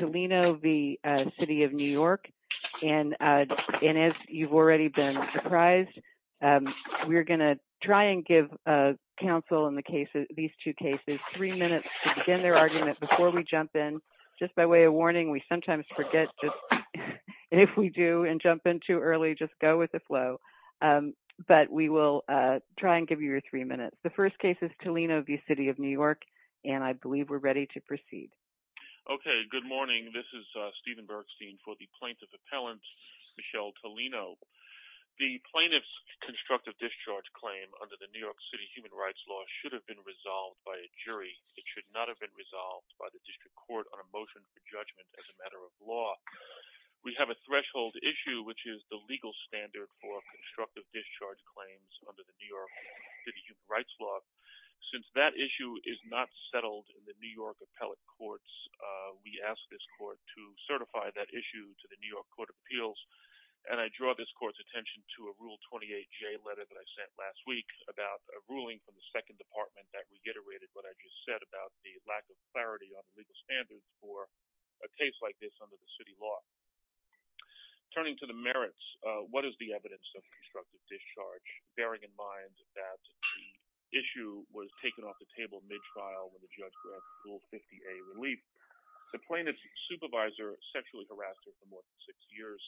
And as you've already been surprised, we're going to try and give counsel in the case of these two cases three minutes to begin their argument before we jump in. Just by way of warning, we sometimes forget, and if we do and jump in too early, just go with the flow. But we will try and give you your three minutes. The first case is Tolino v. City of New York, and I believe we're ready to proceed. Okay, good morning. This is Stephen Bergstein for the plaintiff appellant, Michelle Tolino. The plaintiff's constructive discharge claim under the New York City Human Rights Law should have been resolved by a jury. It should not have been resolved by the district court on a motion for judgment as a matter of law. We have a threshold issue, which is the legal standard for constructive discharge claims under the New York City Human Rights Law. Since that issue is not settled in the New York appellate courts, we ask this court to certify that issue to the New York Court of Appeals. And I draw this court's attention to a Rule 28J letter that I sent last week about a ruling from the second department that reiterated what I just said about the lack of clarity on the legal standard for a case like this under the city law. Turning to the merits, what is the evidence of constructive discharge, bearing in mind that the issue was taken off the table mid-trial when the judge granted Rule 50A relief? The plaintiff's supervisor sexually harassed her for more than six years.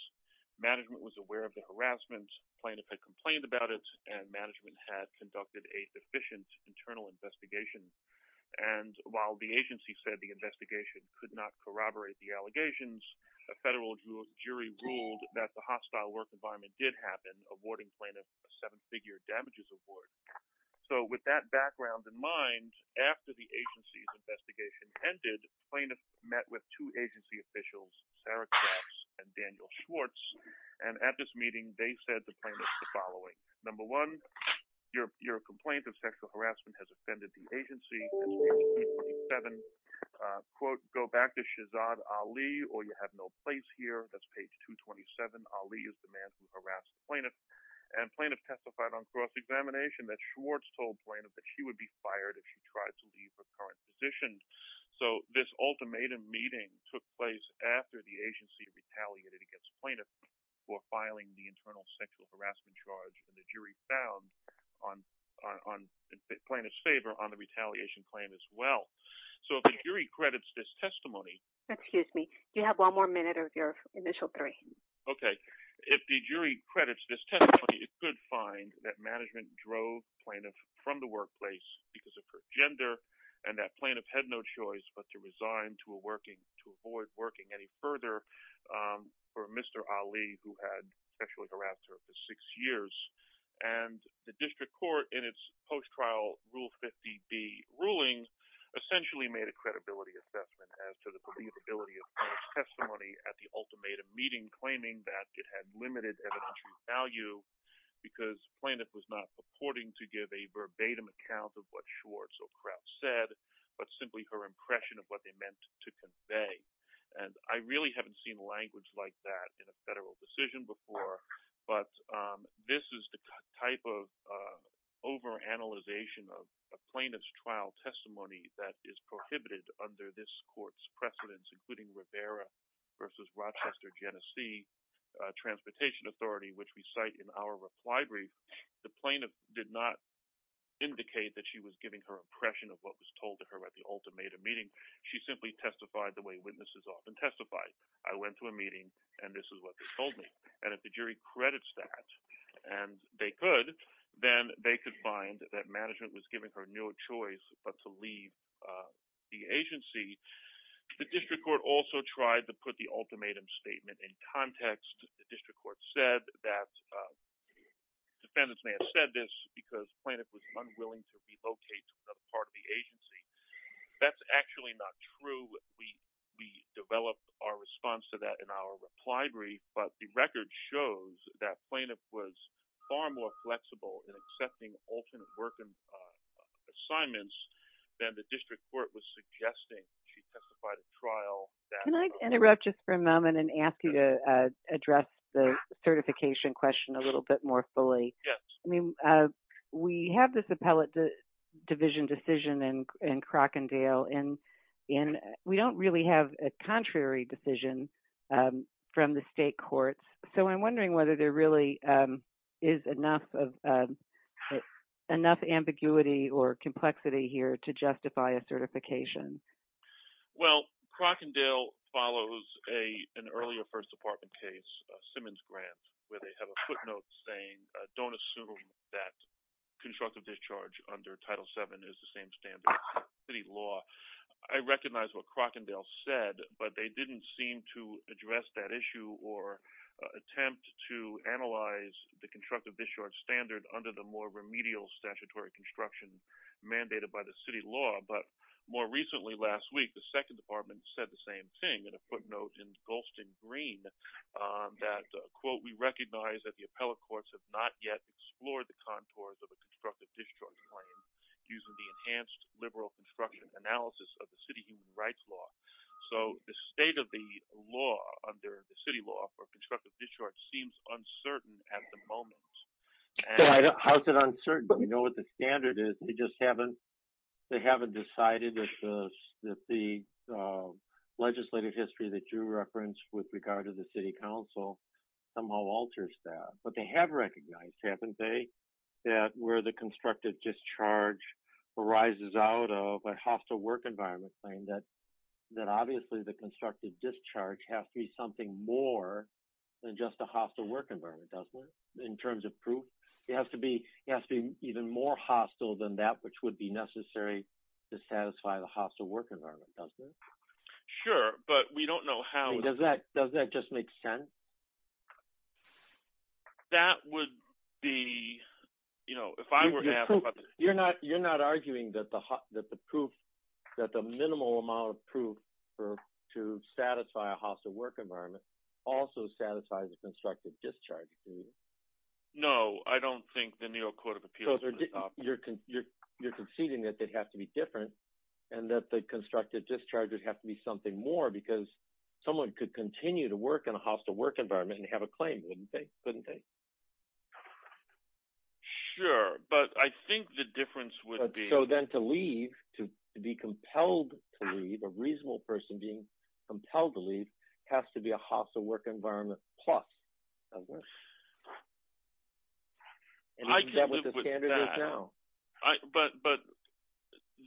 Management was aware of the harassment. Plaintiff had complained about it, and management had conducted a deficient internal investigation. And while the agency said the investigation could not corroborate the allegations, a federal jury ruled that the hostile work environment did happen, awarding plaintiff a seven-figure damages award. So, with that background in mind, after the agency's investigation ended, plaintiff met with two agency officials, Sarah Crafts and Daniel Schwartz, and at this meeting they said to plaintiff the following. Number one, your complaint of sexual harassment has offended the agency. Page 227, quote, go back to Shehzad Ali or you have no place here. That's page 227. Ali is the man who harassed the plaintiff. And plaintiff testified on cross-examination that Schwartz told plaintiff that she would be fired if she tried to leave her current position. So this ultimatum meeting took place after the agency retaliated against plaintiff for filing the internal sexual harassment charge that the jury found on plaintiff's favor on the retaliation claim as well. So if the jury credits this testimony, it could find that management drove plaintiff from the workplace because of her gender, and that plaintiff had no choice but to resign to avoid working any further for Mr. Ali, who had sexually harassed her for six years. And the district court, in its post-trial Rule 50B ruling, essentially made a credibility assessment as to the believability of plaintiff's testimony at the ultimatum meeting, claiming that it had limited evidentiary value because plaintiff was not purporting to give a verbatim account of what Schwartz or Crafts said, but simply her impression of what they meant to convey. And I really haven't seen language like that in a federal decision before, but this is the type of over-analyzation of a plaintiff's trial testimony that is prohibited under this court's precedence, including Rivera v. Rochester Genesee Transportation Authority, which we cite in our reply brief. The plaintiff did not indicate that she was giving her impression of what was told to her at the ultimatum meeting. She simply testified the way witnesses often testify. I went to a meeting, and this is what they told me. And if the jury credits that, and they could, then they could find that management was giving her no choice but to leave the agency. The district court also tried to put the ultimatum statement in context. The district court said that defendants may have said this because plaintiff was unwilling to relocate to another part of the agency. That's actually not true. We developed our response to that in our reply brief. But the record shows that plaintiff was far more flexible in accepting alternate working assignments than the district court was suggesting. She testified at trial. Can I interrupt just for a moment and ask you to address the certification question a little bit more fully? We have this appellate division decision in Crockendale, and we don't really have a contrary decision from the state courts. So I'm wondering whether there really is enough ambiguity or complexity here to justify a certification. Well, Crockendale follows an earlier First Department case, Simmons-Grant, where they have a footnote saying, don't assume that constructive discharge under Title VII is the same standard as city law. I recognize what Crockendale said, but they didn't seem to address that issue or attempt to analyze the constructive discharge standard under the more remedial statutory construction mandated by the city law. But more recently, last week, the Second Department said the same thing in a footnote in Golston Green that, quote, we recognize that the appellate courts have not yet explored the contours of the constructive discharge frame using the enhanced liberal construction analysis of the city human rights law. So the state of the law under the city law for constructive discharge seems uncertain at the moment. How is it uncertain? We know what the standard is. They just haven't decided that the legislative history that you referenced with regard to the city council somehow alters that. But they have recognized, haven't they, that where the constructive discharge arises out of a hostile work environment frame, that obviously the constructive discharge has to be something more than just a hostile work environment, doesn't it, in terms of proof? It has to be even more hostile than that which would be necessary to satisfy the hostile work environment, doesn't it? Sure, but we don't know how. Does that just make sense? That would be, you know, if I were to have... You're not arguing that the minimal amount of proof to satisfy a hostile work environment also satisfies the constructive discharge? No, I don't think the New York Court of Appeals would adopt that. You're conceding that it has to be different and that the constructive discharges have to be something more because someone could continue to work in a hostile work environment and have a claim, wouldn't they? Sure, but I think the difference would be... So then to leave, to be compelled to leave, a reasonable person being compelled to leave, has to be a hostile work environment plus. And isn't that what the standard is now? But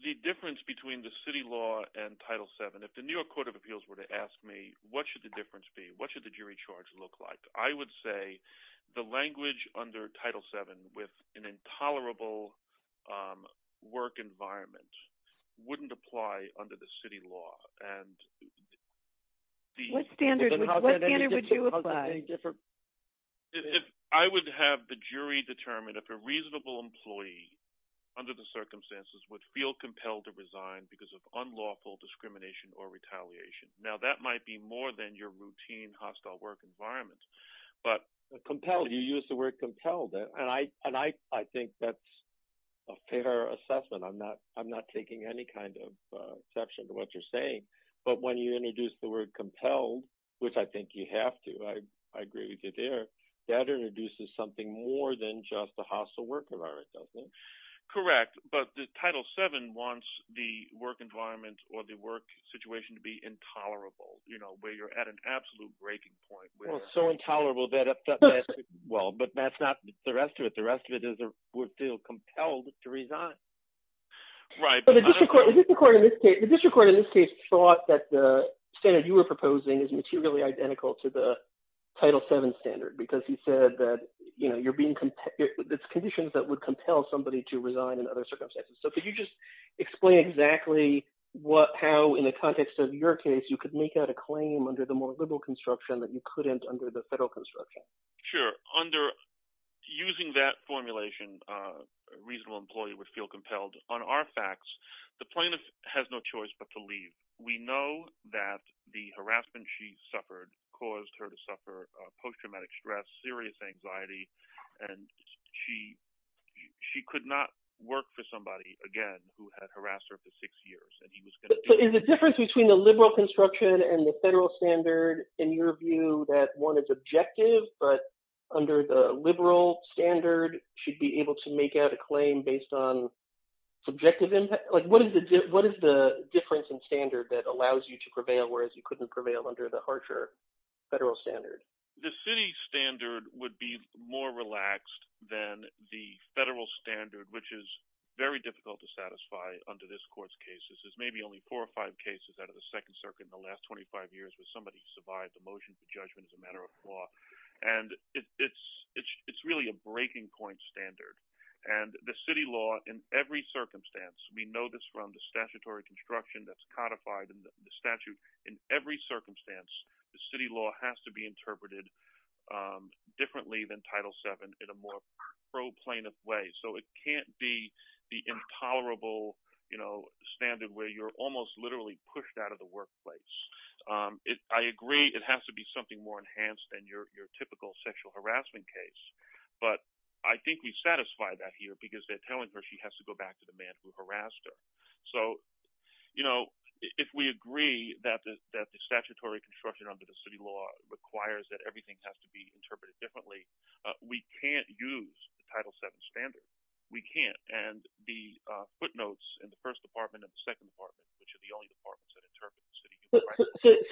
the difference between the city law and Title VII, if the New York Court of Appeals were to ask me what should the difference be, what should the jury charge look like, I would say the language under Title VII with an intolerable work environment wouldn't apply under the city law. What standard would you apply? I would have the jury determine if a reasonable employee under the circumstances would feel compelled to resign because of unlawful discrimination or retaliation. Now that might be more than your routine hostile work environment, but... Which I think you have to. I agree with you there. That introduces something more than just a hostile work environment, doesn't it? Correct, but the Title VII wants the work environment or the work situation to be intolerable, where you're at an absolute breaking point. Well, it's so intolerable that... Well, but that's not the rest of it. The rest of it is we're still compelled to resign. Right. The district court in this case thought that the standard you were proposing is materially identical to the Title VII standard because you said that it's conditions that would compel somebody to resign in other circumstances. So could you just explain exactly how, in the context of your case, you could make out a claim under the more liberal construction that you couldn't under the federal construction? Sure. Using that formulation, a reasonable employee would feel compelled. On our facts, the plaintiff has no choice but to leave. We know that the harassment she suffered caused her to suffer post-traumatic stress, serious anxiety, and she could not work for somebody, again, who had harassed her for six years. Is the difference between the liberal construction and the federal standard, in your view, that one is objective, but under the liberal standard, she'd be able to make out a claim based on subjective impact? What is the difference in standard that allows you to prevail, whereas you couldn't prevail under the harsher federal standard? The city standard would be more relaxed than the federal standard, which is very difficult to satisfy under this court's cases. There's maybe only four or five cases out of the Second Circuit in the last 25 years where somebody survived a motion for judgment as a matter of law. It's really a breaking point standard. The city law, in every circumstance—we know this from the statutory construction that's codified in the statute—in every circumstance, the city law has to be interpreted differently than Title VII in a more pro-plaintiff way. It can't be the intolerable standard where you're almost literally pushed out of the workplace. I agree it has to be something more enhanced than your typical sexual harassment case, but I think we satisfy that here because they're telling her she has to go back to the man who harassed her. If we agree that the statutory construction under the city law requires that everything has to be interpreted differently, we can't use the Title VII standard. We can't. And the footnotes in the first department and the second department, which are the only departments that interpret the city—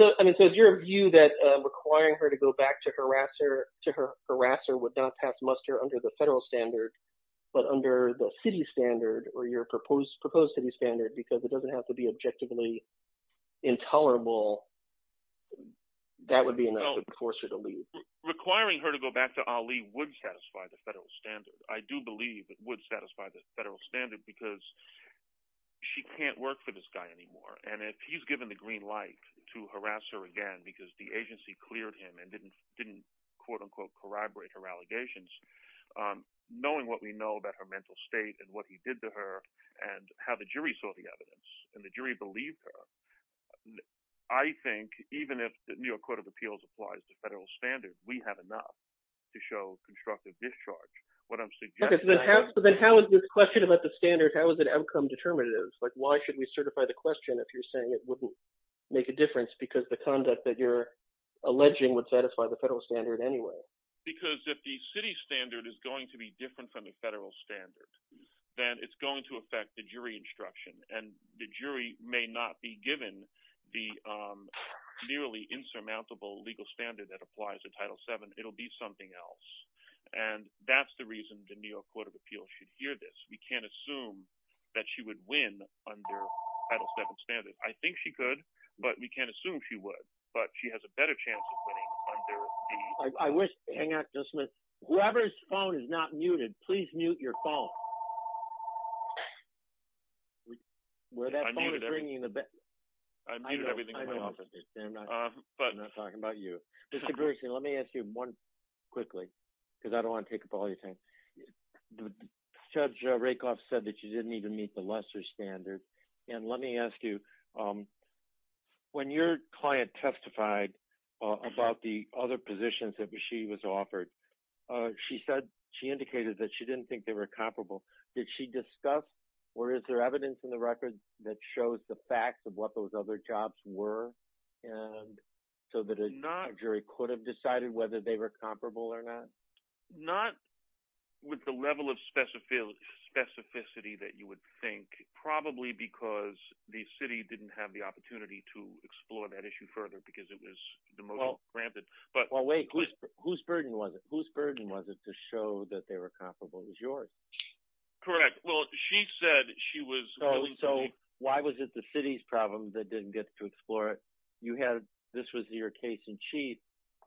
So is your view that requiring her to go back to her harasser would not pass muster under the federal standard, but under the city standard or your proposed city standard because it doesn't have to be objectively intolerable, that would be enough to force her to leave? Requiring her to go back to Ali would satisfy the federal standard. I do believe it would satisfy the federal standard because she can't work for this guy anymore, and if he's given the green light to harass her again because the agency cleared him and didn't quote-unquote corroborate her allegations, knowing what we know about her mental state and what he did to her and how the jury saw the evidence and the jury believed her, I think even if the New York Court of Appeals applies the federal standard, we have enough to show constructive discharge. What I'm suggesting— Okay, so then how is this question about the standard, how is it outcome determinative? Why should we certify the question if you're saying it wouldn't make a difference because the conduct that you're alleging would satisfy the federal standard anyway? Because if the city standard is going to be different from the federal standard, then it's going to affect the jury instruction, and the jury may not be given the nearly insurmountable legal standard that applies to Title VII. It'll be something else, and that's the reason the New York Court of Appeals should hear this. We can't assume that she would win under Title VII standard. I think she could, but we can't assume she would, but she has a better chance of winning under the— I wish—hang on just a minute. Whoever's phone is not muted, please mute your phone. I muted everything in my office. I'm not talking about you. Mr. Berksley, let me ask you one quickly because I don't want to take up all your time. Judge Rakoff said that you didn't even meet the lesser standard, and let me ask you, when your client testified about the other positions that she was offered, she said—she indicated that she didn't think they were comparable. Did she discuss, or is there evidence in the record that shows the facts of what those other jobs were so that a jury could have decided whether they were comparable or not? Not with the level of specificity that you would think, probably because the city didn't have the opportunity to explore that issue further because it was the most rampant. Whose burden was it to show that they were comparable? It was yours. Correct. Well, she said she was— So why was it the city's problem that didn't get to explore it? You had—this was your case in chief.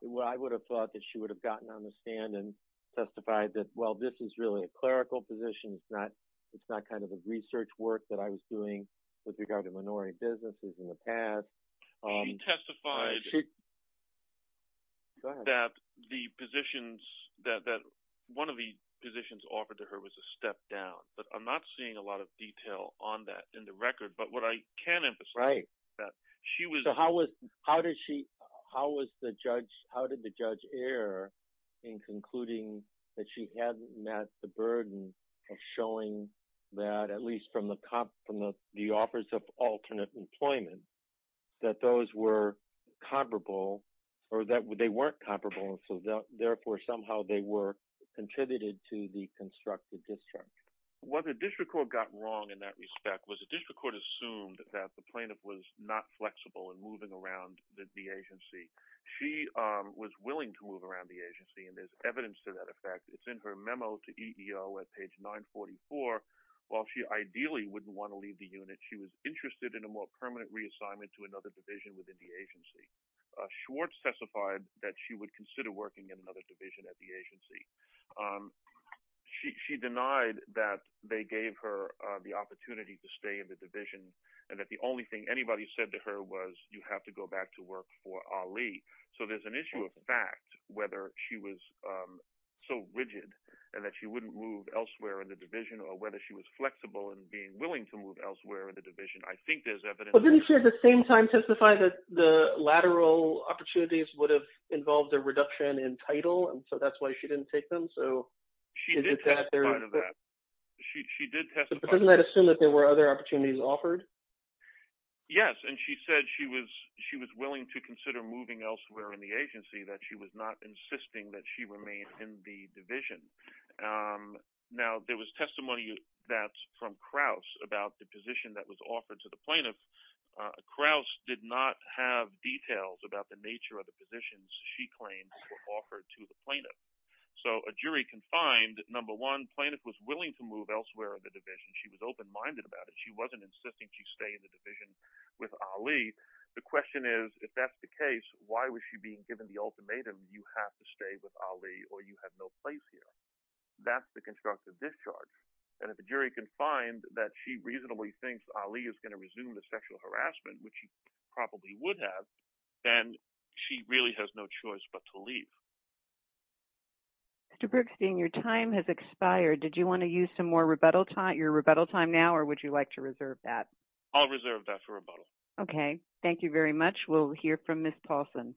I would have thought that she would have gotten on the stand and testified that, well, this is really a clerical position. It's not kind of a research work that I was doing with regard to minority businesses in the past. She testified— Go ahead. —that the positions—that one of the positions offered to her was a step down, but I'm not seeing a lot of detail on that in the record. But what I can emphasize is that she was— So how was—how did she—how was the judge—how did the judge err in concluding that she hadn't met the burden of showing that, at least from the offers of alternate employment, that those were comparable or that they weren't comparable and so therefore somehow they were contributed to the constructive discharge? What the district court got wrong in that respect was the district court assumed that the plaintiff was not flexible in moving around the agency. She was willing to move around the agency, and there's evidence to that effect. It's in her memo to EEO at page 944. While she ideally wouldn't want to leave the unit, she was interested in a more permanent reassignment to another division within the agency. Schwartz testified that she would consider working in another division at the agency. She denied that they gave her the opportunity to stay in the division and that the only thing anybody said to her was, you have to go back to work for Ali. So there's an issue of fact whether she was so rigid and that she wouldn't move elsewhere in the division or whether she was flexible in being willing to move elsewhere in the division. I think there's evidence— The collateral opportunities would have involved a reduction in title, and so that's why she didn't take them. She did testify to that. She did testify. Doesn't that assume that there were other opportunities offered? Yes, and she said she was willing to consider moving elsewhere in the agency, that she was not insisting that she remain in the division. Now, there was testimony from Kraus about the position that was offered to the plaintiff. Kraus did not have details about the nature of the positions she claimed were offered to the plaintiff. So a jury can find, number one, the plaintiff was willing to move elsewhere in the division. She was open-minded about it. She wasn't insisting she stay in the division with Ali. The question is, if that's the case, why was she being given the ultimatum, you have to stay with Ali or you have no place here? That's the constructive discharge. And if a jury can find that she reasonably thinks Ali is going to resume the sexual harassment, which he probably would have, then she really has no choice but to leave. Mr. Bergstein, your time has expired. Did you want to use your rebuttal time now or would you like to reserve that? I'll reserve that for rebuttal. Okay. Thank you very much. We'll hear from Ms. Paulson.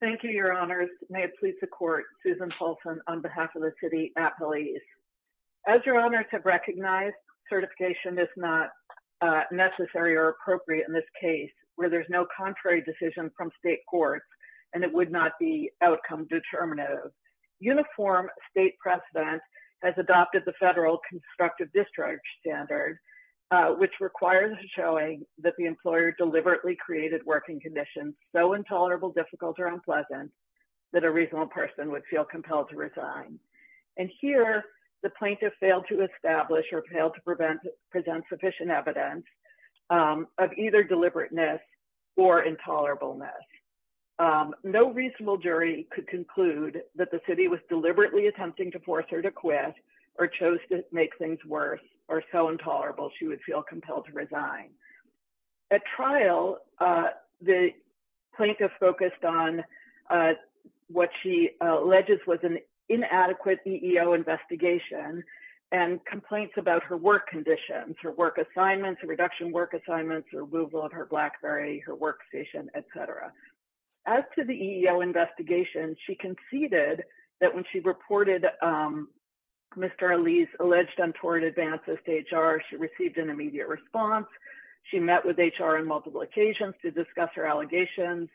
Thank you, Your Honors. May it please the Court, Susan Paulson on behalf of the City at Police. As Your Honors have recognized, certification is not necessary or appropriate in this case where there's no contrary decision from state courts and it would not be outcome determinative. Uniform state precedent has adopted the federal constructive discharge standard, which requires showing that the employer deliberately created working conditions so intolerable, difficult, or unpleasant that a reasonable person would feel compelled to resign. And here, the plaintiff failed to establish or failed to present sufficient evidence of either deliberateness or intolerableness. No reasonable jury could conclude that the city was deliberately attempting to force her to quit or chose to make things worse or so intolerable she would feel compelled to resign. At trial, the plaintiff focused on what she alleges was an inadequate EEO investigation and complaints about her work conditions, her work assignments, reduction work assignments, removal of her BlackBerry, her workstation, etc. As to the EEO investigation, she conceded that when she reported Mr. Ali's alleged untoward advances to HR, she received an immediate response. She met with HR on multiple occasions to discuss her allegations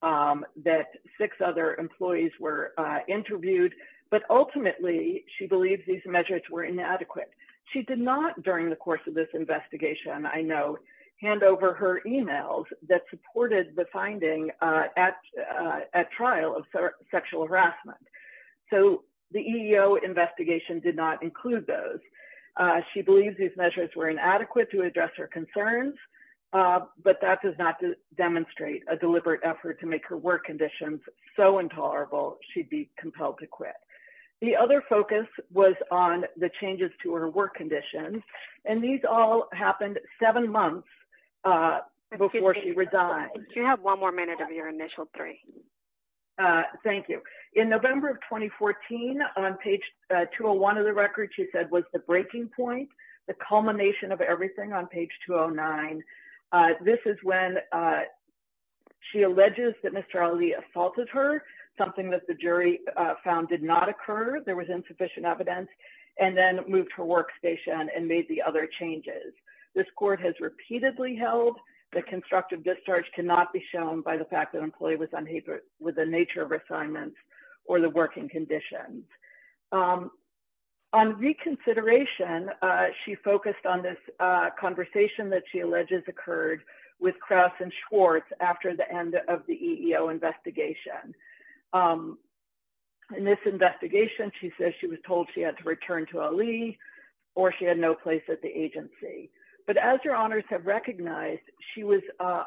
that six other employees were interviewed, but ultimately, she believes these measures were inadequate. She did not, during the course of this investigation, I note, hand over her emails that supported the finding at trial of sexual harassment. So, the EEO investigation did not include those. She believes these measures were inadequate to address her concerns, but that does not demonstrate a deliberate effort to make her work conditions so intolerable she'd be compelled to quit. The other focus was on the changes to her work conditions, and these all happened seven months before she resigned. Do you have one more minute of your initial three? Thank you. In November of 2014, on page 201 of the record, she said, was the breaking point, the culmination of everything on page 209. This is when she alleges that Mr. Ali assaulted her, something that the jury found did not occur, there was insufficient evidence, and then moved her workstation and made the other changes. This court has repeatedly held that constructive discharge cannot be shown by the fact that an employee was unhappy with the nature of her assignments or the working conditions. On reconsideration, she focused on this conversation that she alleges occurred with Krauss and Schwartz after the end of the EEO investigation. In this investigation, she says she was told she had to return to Ali or she had no place at the agency. But as your honors have recognized, she was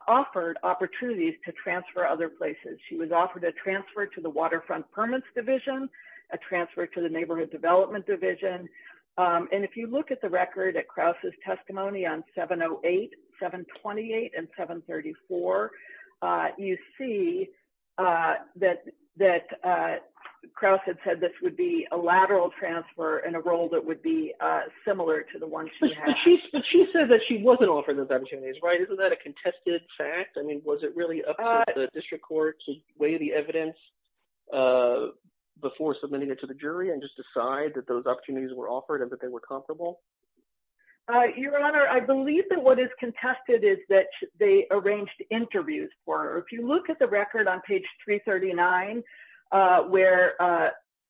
offered opportunities to transfer other places. She was offered a transfer to the Waterfront Permits Division, a transfer to the Neighborhood Development Division. And if you look at the record at Krauss' testimony on 708, 728, and 734, you see that Krauss had said this would be a lateral transfer in a role that would be similar to the one she had. But she said that she wasn't offered those opportunities, right? Isn't that a contested fact? I mean, was it really up to the district court to weigh the evidence before submitting it to the jury and just decide that those opportunities were offered and that they were comparable? Your honor, I believe that what is contested is that they arranged interviews for her. If you look at the record on page 339 where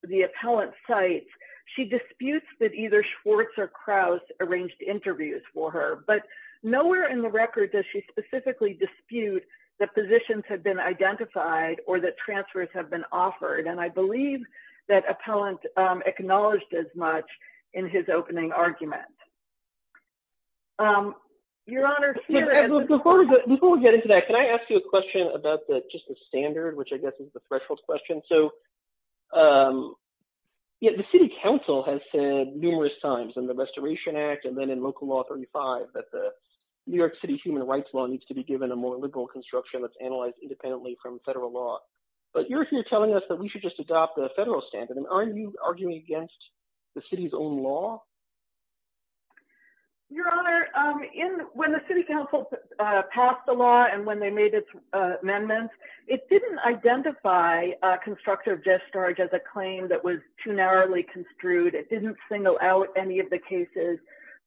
the appellant cites, she disputes that either Schwartz or Krauss arranged interviews for her. But nowhere in the record does she specifically dispute that positions have been identified or that transfers have been offered. And I believe that appellant acknowledged as much in his opening argument. Your honor, here— Before we get into that, can I ask you a question about just the standard, which I guess is the threshold question? So the city council has said numerous times in the Restoration Act and then in Local Law 35 that the New York City human rights law needs to be given a more liberal construction that's analyzed independently from federal law. But you're here telling us that we should just adopt the federal standard. Aren't you arguing against the city's own law? Your honor, when the city council passed the law and when they made its amendments, it didn't identify constructive discharge as a claim that was too narrowly construed. It didn't single out any of the cases.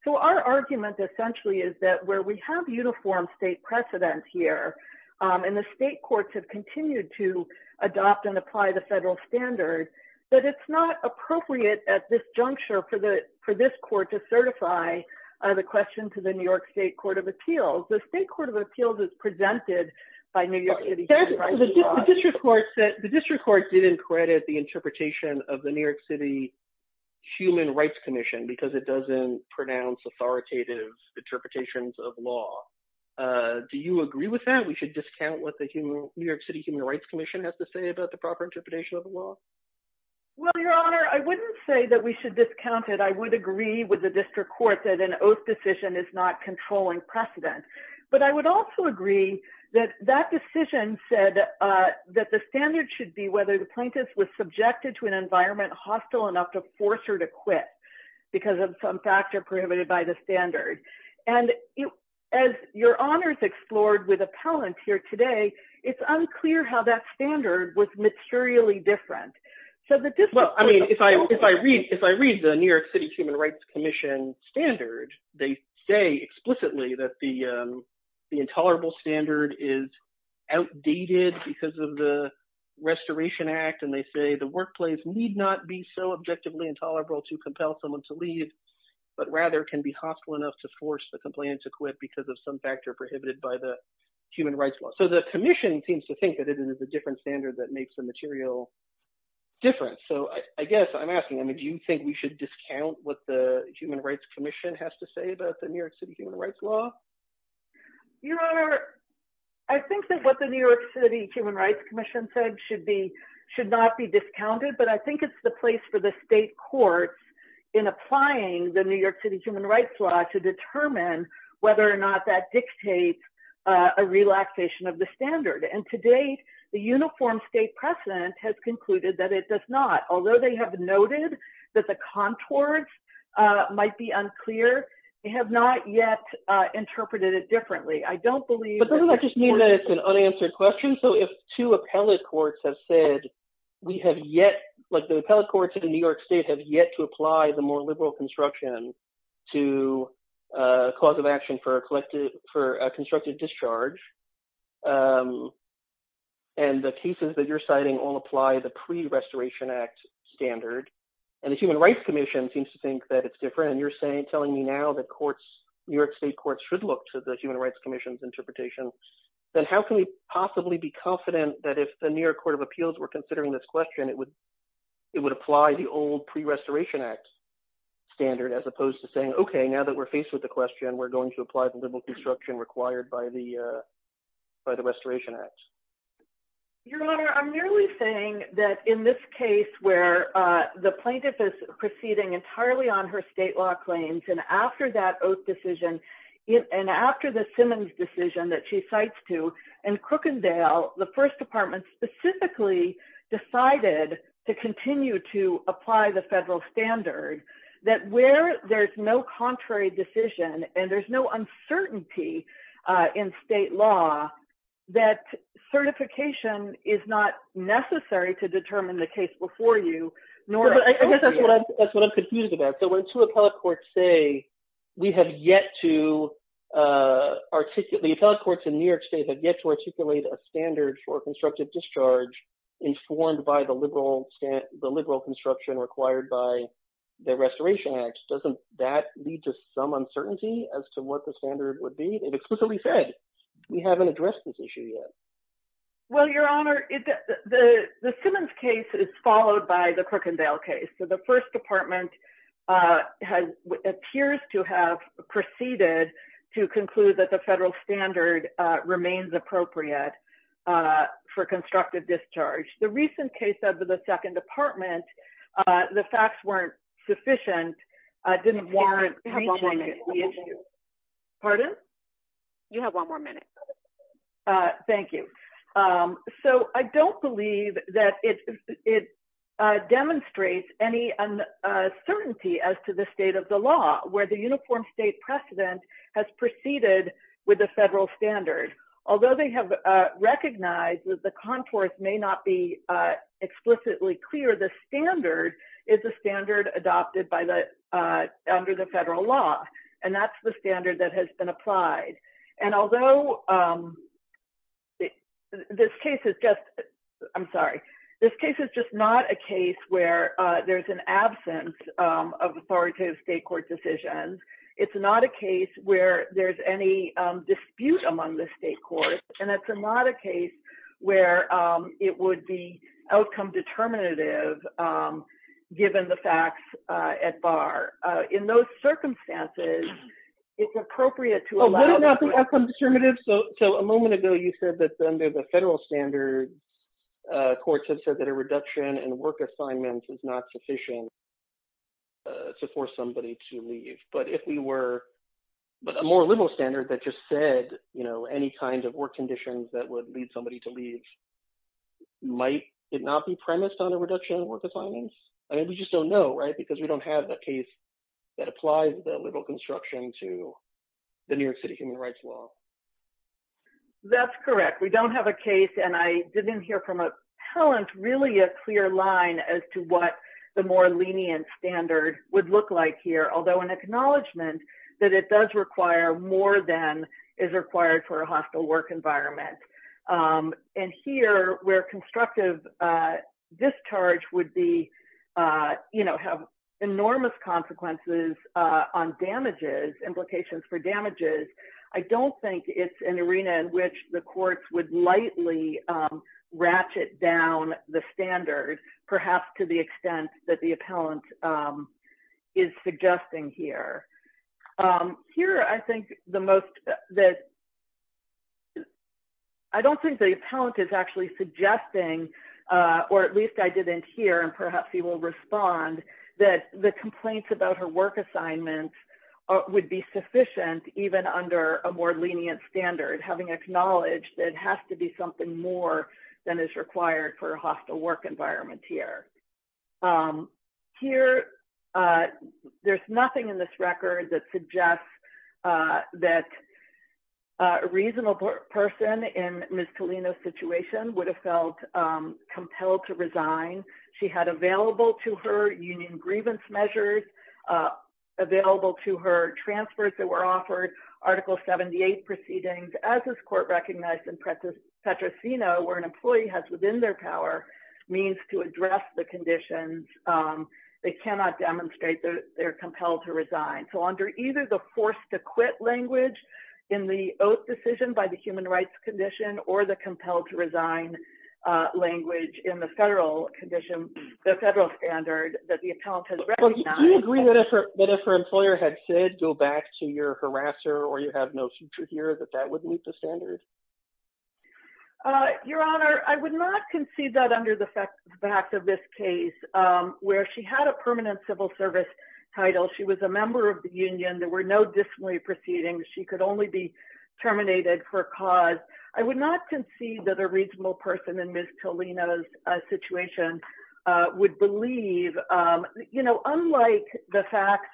So our argument essentially is that where we have uniform state precedence here and the state courts have continued to adopt and apply the federal standard, that it's not appropriate at this juncture for this court to certify the question to the New York State Court of Appeals. The State Court of Appeals is presented by New York City human rights law. The district court didn't credit the interpretation of the New York City Human Rights Commission because it doesn't pronounce authoritative interpretations of law. Do you agree with that? We should discount what the New York City Human Rights Commission has to say about the proper interpretation of the law? Well, your honor, I wouldn't say that we should discount it. I would agree with the district court that an oath decision is not controlling precedent. But I would also agree that that decision said that the standard should be whether the plaintiff was subjected to an environment hostile enough to force her to quit because of some factor prohibited by the standard. And as your honors explored with appellant here today, it's unclear how that standard was materially different. Well, I mean, if I read the New York City Human Rights Commission standard, they say explicitly that the intolerable standard is outdated because of the Restoration Act. And they say the workplace need not be so objectively intolerable to compel someone to leave, but rather can be hostile enough to force the complainant to quit because of some factor prohibited by the human rights law. So the commission seems to think that it is a different standard that makes the material difference. So I guess I'm asking, I mean, do you think we should discount what the Human Rights Commission has to say about the New York City Human Rights Law? Your honor, I think that what the New York City Human Rights Commission said should not be discounted. But I think it's the place for the state courts in applying the New York City Human Rights Law to determine whether or not that dictates a relaxation of the standard. And to date, the uniform state precedent has concluded that it does not. Although they have noted that the contours might be unclear, they have not yet interpreted it differently. I don't believe— But doesn't that just mean that it's an unanswered question? Even so, if two appellate courts have said we have yet—like the appellate courts in New York State have yet to apply the more liberal construction to a cause of action for a constructed discharge, and the cases that you're citing all apply the pre-Restoration Act standard, and the Human Rights Commission seems to think that it's different. And you're telling me now that New York State courts should look to the Human Rights Commission's interpretation. Then how can we possibly be confident that if the New York Court of Appeals were considering this question, it would apply the old pre-Restoration Act standard, as opposed to saying, okay, now that we're faced with the question, we're going to apply the liberal construction required by the Restoration Act? Your Honor, I'm merely saying that in this case where the plaintiff is proceeding entirely on her state law claims, and after that oath decision, and after the Simmons decision that she cites to, and Crookendale, the First Department specifically decided to continue to apply the federal standard, that where there's no contrary decision and there's no uncertainty in state law, that certification is not necessary to determine the case before you, nor— Doesn't that lead to some uncertainty as to what the standard would be? It explicitly said, we haven't addressed this issue yet. Well, Your Honor, the Simmons case is followed by the Crookendale case. The First Department appears to have proceeded to conclude that the federal standard remains appropriate for constructive discharge. The recent case of the Second Department, the facts weren't sufficient, didn't warrant reaching the issue. Pardon? You have one more minute. Thank you. So I don't believe that it demonstrates any uncertainty as to the state of the law where the uniform state precedent has proceeded with the federal standard. Although they have recognized that the contours may not be explicitly clear, the standard is a standard adopted under the federal law, and that's the standard that has been applied. And although this case is just—I'm sorry. This case is just not a case where there's an absence of authoritative state court decisions. It's not a case where there's any dispute among the state courts, and it's not a case where it would be outcome determinative, given the facts at bar. In those circumstances, it's appropriate to allow— Oh, what about the outcome determinative? So a moment ago, you said that under the federal standard, courts have said that a reduction in work assignments is not sufficient to force somebody to leave. But if we were—but a more liberal standard that just said, you know, any kind of work conditions that would lead somebody to leave, might it not be premised on a reduction in work assignments? I mean, we just don't know, right? Because we don't have a case that applies that liberal construction to the New York City human rights law. That's correct. We don't have a case, and I didn't hear from a talent really a clear line as to what the more lenient standard would look like here. Although an acknowledgment that it does require more than is required for a hostile work environment. And here, where constructive discharge would be, you know, have enormous consequences on damages, implications for damages, I don't think it's an arena in which the courts would lightly ratchet down the standard, perhaps to the extent that the appellant is suggesting here. Here, I think the most—I don't think the appellant is actually suggesting, or at least I didn't hear, and perhaps he will respond, that the complaints about her work assignments would be sufficient even under a more lenient standard, having acknowledged that it has to be something more than is required for a hostile work environment here. Here, there's nothing in this record that suggests that a reasonable person in Ms. Tolino's situation would have felt compelled to resign. She had available to her union grievance measures, available to her transfers that were offered, Article 78 proceedings, as is court-recognized in Petrosino, where an employee has within their power means to address the conditions. They cannot demonstrate that they're compelled to resign. So under either the forced-to-quit language in the oath decision by the human rights condition or the compelled-to-resign language in the federal condition, the federal standard that the appellant has recognized— Do you agree that if her employer had said, go back to your harasser or you have no future here, that that would meet the standards? Your Honor, I would not concede that under the fact of this case, where she had a permanent civil service title. She was a member of the union. There were no disciplinary proceedings. She could only be terminated for cause. I would not concede that a reasonable person in Ms. Tolino's situation would believe, you know, unlike the facts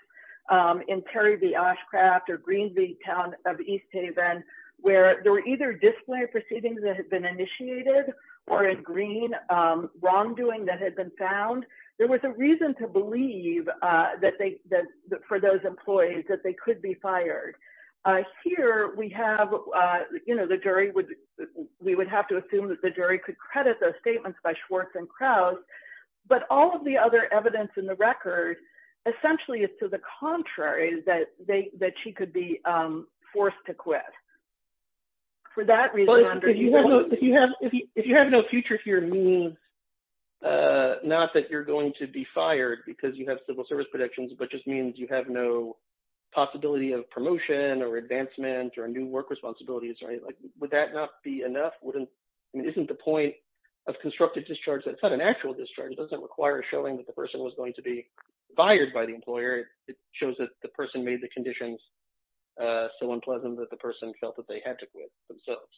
in Terry v. Oshcraft or Green v. Town of East Haven, where there were either disciplinary proceedings that had been initiated or, in green, wrongdoing that had been found. There was a reason to believe for those employees that they could be fired. Here we have, you know, the jury would—we would have to assume that the jury could credit those statements by Schwartz and Krauss, but all of the other evidence in the record essentially is to the contrary, that she could be forced to quit. For that reason, under— or advancement or new work responsibilities, right? Would that not be enough? Wouldn't—I mean, isn't the point of constructive discharge that it's not an actual discharge? It doesn't require showing that the person was going to be fired by the employer. It shows that the person made the conditions so unpleasant that the person felt that they had to quit themselves.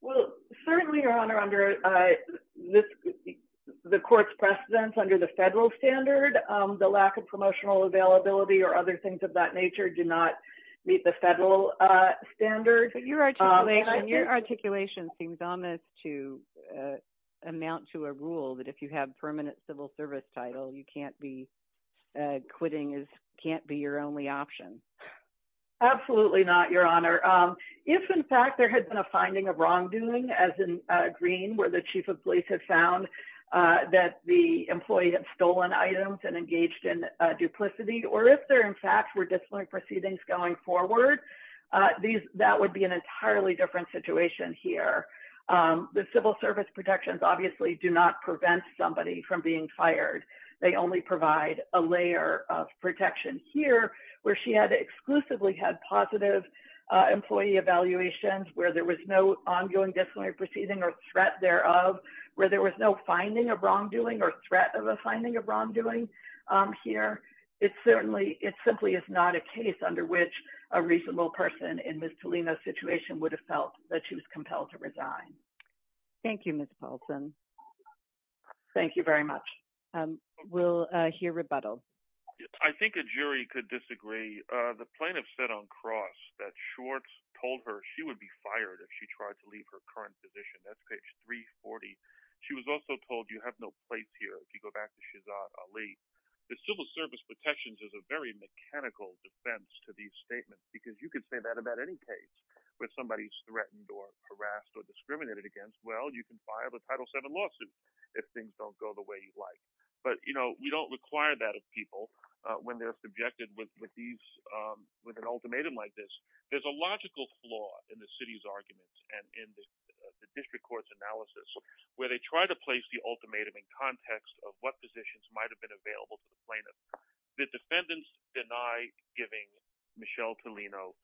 Well, certainly, Your Honor, under this—the court's precedence under the federal standard, the lack of promotional availability or other things of that nature do not meet the federal standard. Your articulation seems ominous to amount to a rule that if you have permanent civil service title, you can't be—quitting is—can't be your only option. Absolutely not, Your Honor. If, in fact, there had been a finding of wrongdoing, as in Green, where the chief of police had found that the employee had stolen items and engaged in duplicity, or if there, in fact, were disciplinary proceedings going forward, these—that would be an entirely different situation here. The civil service protections obviously do not prevent somebody from being fired. They only provide a layer of protection here, where she had exclusively had positive employee evaluations, where there was no ongoing disciplinary proceeding or threat thereof, where there was no finding of wrongdoing or threat of a finding of wrongdoing here. It certainly—it simply is not a case under which a reasonable person in Ms. Tolino's situation would have felt that she was compelled to resign. Thank you, Ms. Paulson. Thank you very much. We'll hear rebuttal. I think a jury could disagree. The plaintiff said on cross that Schwartz told her she would be fired if she tried to leave her current position. That's page 340. She was also told, you have no place here, if you go back to Shehzad Ali. The civil service protections is a very mechanical defense to these statements, because you could say that about any case where somebody is threatened or harassed or discriminated against. Well, you can fire the Title VII lawsuit if things don't go the way you'd like. But, you know, we don't require that of people when they're subjected with an ultimatum like this. There's a logical flaw in the city's arguments and in the district court's analysis, where they try to place the ultimatum in context of what positions might have been available to the plaintiff. The defendants deny giving Michelle Tolino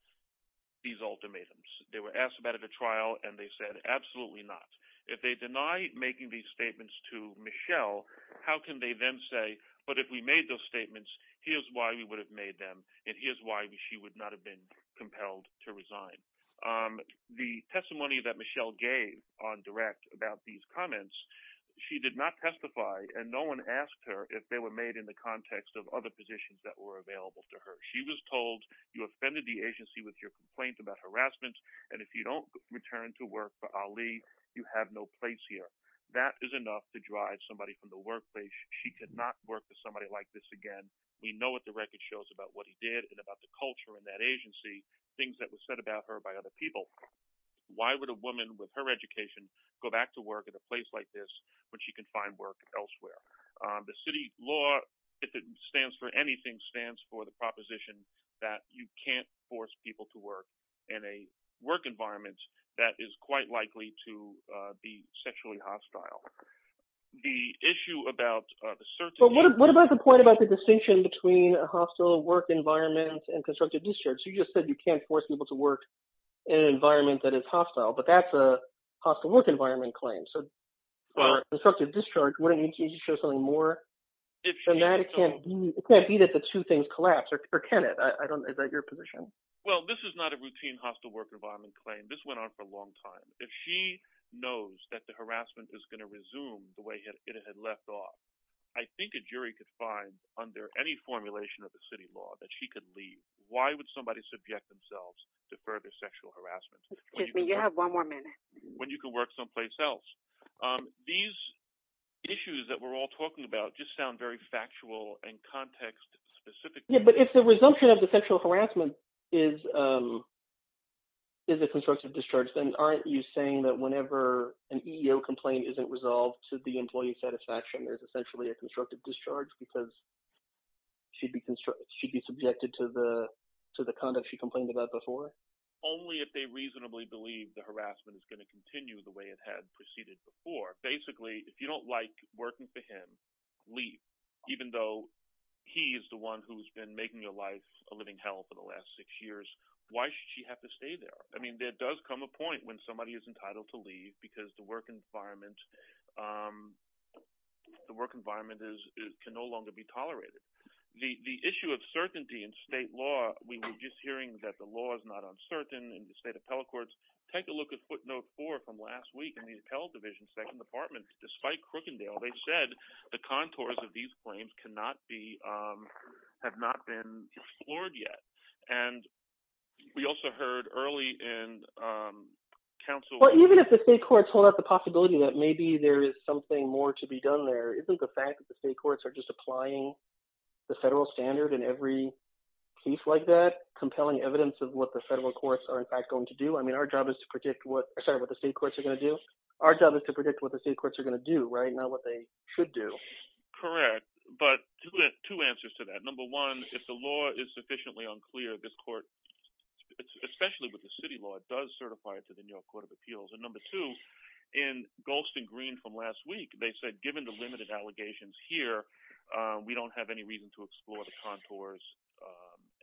these ultimatums. They were asked about it at trial, and they said, absolutely not. If they deny making these statements to Michelle, how can they then say, but if we made those statements, here's why we would have made them, and here's why she would not have been compelled to resign. The testimony that Michelle gave on direct about these comments, she did not testify, and no one asked her if they were made in the context of other positions that were available to her. She was told, you offended the agency with your complaint about harassment, and if you don't return to work for Ali, you have no place here. That is enough to drive somebody from the workplace. She could not work for somebody like this again. We know what the record shows about what he did and about the culture in that agency, things that were said about her by other people. Why would a woman with her education go back to work at a place like this when she can find work elsewhere? The city law, if it stands for anything, stands for the proposition that you can't force people to work in a work environment that is quite likely to be sexually hostile. The issue about the certain… What about the point about the distinction between a hostile work environment and constructive discharge? You just said you can't force people to work in an environment that is hostile, but that's a hostile work environment claim. So, constructive discharge, wouldn't it show something more than that? It can't be that the two things collapse, or can it? Is that your position? Well, this is not a routine hostile work environment claim. This went on for a long time. If she knows that the harassment is going to resume the way it had left off, I think a jury could find, under any formulation of the city law, that she could leave. Why would somebody subject themselves to further sexual harassment? Excuse me, you have one more minute. When you can work someplace else. These issues that we're all talking about just sound very factual and context-specific. But if the resumption of the sexual harassment is a constructive discharge, then aren't you saying that whenever an EEO complaint isn't resolved to the employee's satisfaction, there's essentially a constructive discharge because she'd be subjected to the conduct she complained about before? Only if they reasonably believe the harassment is going to continue the way it had proceeded before. Basically, if you don't like working for him, leave. Even though he is the one who's been making your life a living hell for the last six years, why should she have to stay there? I mean, there does come a point when somebody is entitled to leave because the work environment can no longer be tolerated. The issue of certainty in state law, we were just hearing that the law is not uncertain in the state appellate courts. Take a look at footnote four from last week in the appellate division's second department. Despite Crookendale, they said the contours of these claims have not been explored yet. And we also heard early in counsel— The federal standard in every case like that, compelling evidence of what the federal courts are in fact going to do. I mean, our job is to predict what the state courts are going to do, not what they should do. Correct, but two answers to that. Number one, if the law is sufficiently unclear, this court, especially with the city law, does certify it to the New York Court of Appeals. And number two, in Golston Green from last week, they said given the limited allegations here, we don't have any reason to explore the contours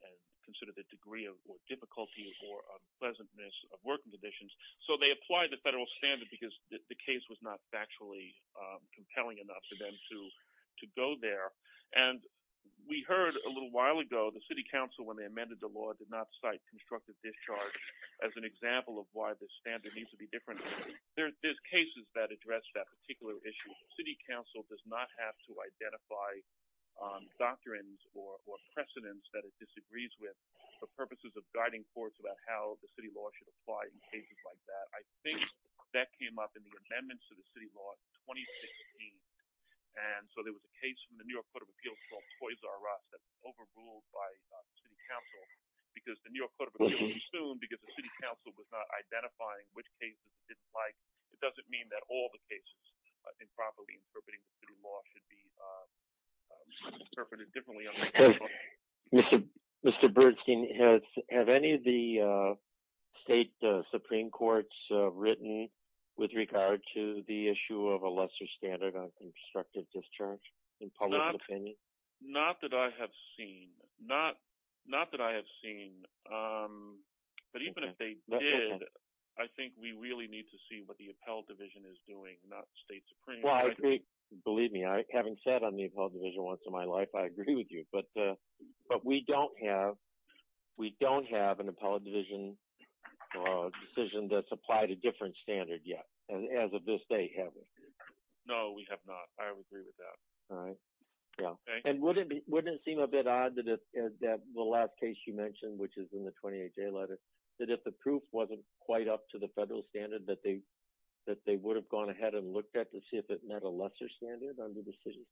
and consider the degree of difficulty or unpleasantness of working conditions. So they applied the federal standard because the case was not factually compelling enough for them to go there. And we heard a little while ago the city council, when they amended the law, did not cite constructive discharge as an example of why the standard needs to be different. There's cases that address that particular issue. The city council does not have to identify doctrines or precedents that it disagrees with for purposes of guiding courts about how the city law should apply in cases like that. I think that came up in the amendments to the city law in 2016. And so there was a case from the New York Court of Appeals called Toys R Us that was overruled by the city council because the New York Court of Appeals assumed because the city council was not identifying which cases it didn't like. It doesn't mean that all the cases in property interpreting the city law should be interpreted differently. Mr. Bernstein, have any of the state supreme courts written with regard to the issue of a lesser standard on constructive discharge in public opinion? Not that I have seen. Not that I have seen. But even if they did, I think we really need to see what the appellate division is doing, not state supreme. Believe me, having said on the appellate division once in my life, I agree with you. But we don't have an appellate division decision that's applied a different standard yet. And as of this day, haven't. No, we have not. I would agree with that. And wouldn't it seem a bit odd that the last case you mentioned, which is in the 28 day letter, that if the proof wasn't quite up to the federal standard that they that they would have gone ahead and looked at to see if it met a lesser standard on the decision?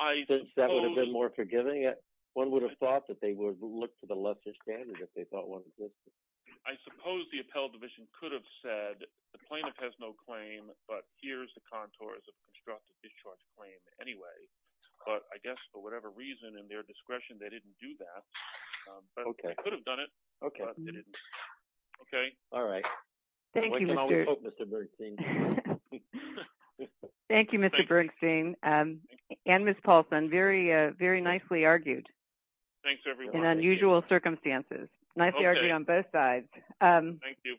I think that would have been more forgiving. One would have thought that they would look to the lesser standard if they thought one was good. I suppose the appellate division could have said the plaintiff has no claim, but here's the contours of constructive discharge claim anyway. But I guess for whatever reason and their discretion, they didn't do that. They could have done it, but they didn't. Okay. All right. Thank you, Mr. Bernstein. Thank you, Mr. Bernstein and Ms. Paulson. Very, very nicely argued. Thanks, everyone. In unusual circumstances, nicely argued on both sides. Thank you.